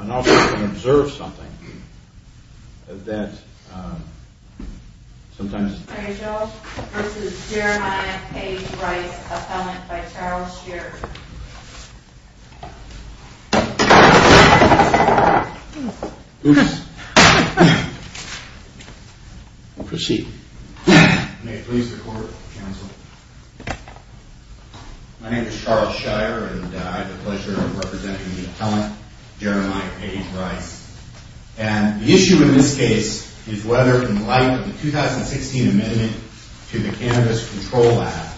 and also to observe something that, um, sometimes George v. Jeremiah Page Rice, appellant by Charles Shearer Oops. Proceed. My name is Charles Shearer and I have the pleasure of representing the appellant, Jeremiah Page Rice. And the issue in this case is whether, in light of the 2016 amendment to the Cannabis Control Act,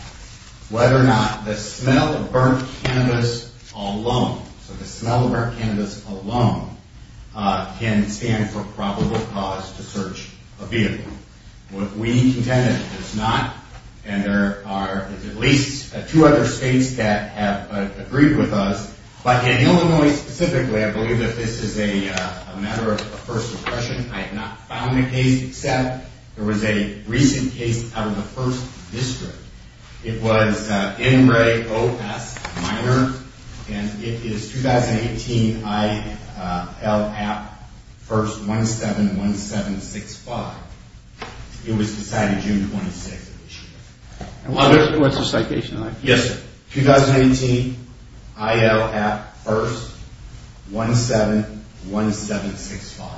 whether or not the smell of burnt cannabis alone, so the smell of burnt cannabis alone, can stand for probable cause to search a vehicle. We contend it does not, and there are at least two other states that have agreed with us. But in Illinois specifically, I believe that this is a matter of first impression. I have not found the case, except there was a recent case out of the 1st District. It was N. Ray O. S. Minor and it is 2018 I. L. App 1st 171765. It was decided June 26 of this year. What's the citation like? Yes, sir. 2018 I. L. App 1st 171765.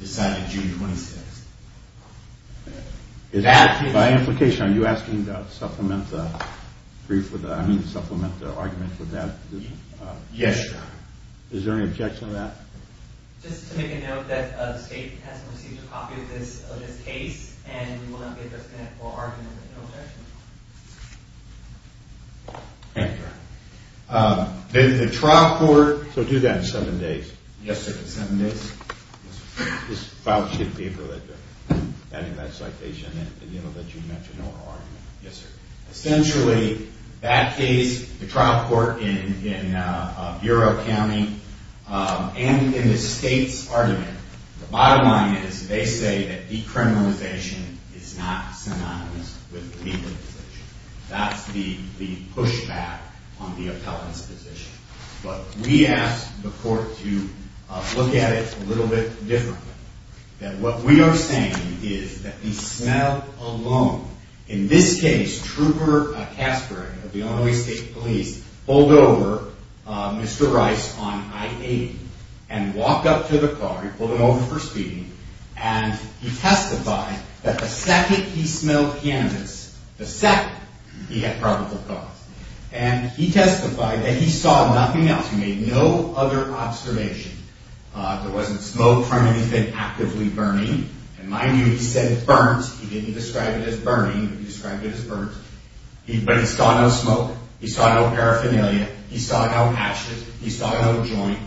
Decided June 26. By implication, are you asking to supplement the argument for that position? Yes, sir. Is there any objection to that? Just to make a note that the state has not received a copy of this case and will not be able to connect for argument. Thank you. The trial court... So do that in seven days. Yes, sir. In seven days. Just file a sheet of paper with that citation and let June mention our argument. Yes, sir. Essentially, that case, the trial court in Bureau County, and in the state's argument, the bottom line is they say that decriminalization is not synonymous with legalization. That's the pushback on the appellant's position. But we asked the court to look at it a little bit differently. That what we are saying is that he smelled alone. In this case, Trooper Caspary of the Illinois State Police pulled over Mr. Rice on I-80 and walked up to the car, he pulled it over for speeding, and he testified that the second he smelled cannabis, the second he had probable cause. And he testified that he saw nothing else. He made no other observation. There wasn't smoke from anything actively burning. And mind you, he said burnt. He didn't describe it as burning. He described it as burnt. But he saw no smoke. He saw no paraphernalia. He saw no ashes. He saw no joint.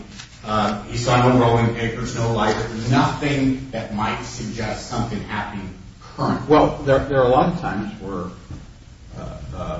He saw no rolling papers, no lighter. Nothing that might suggest something happening current. Well, there are a lot of times where...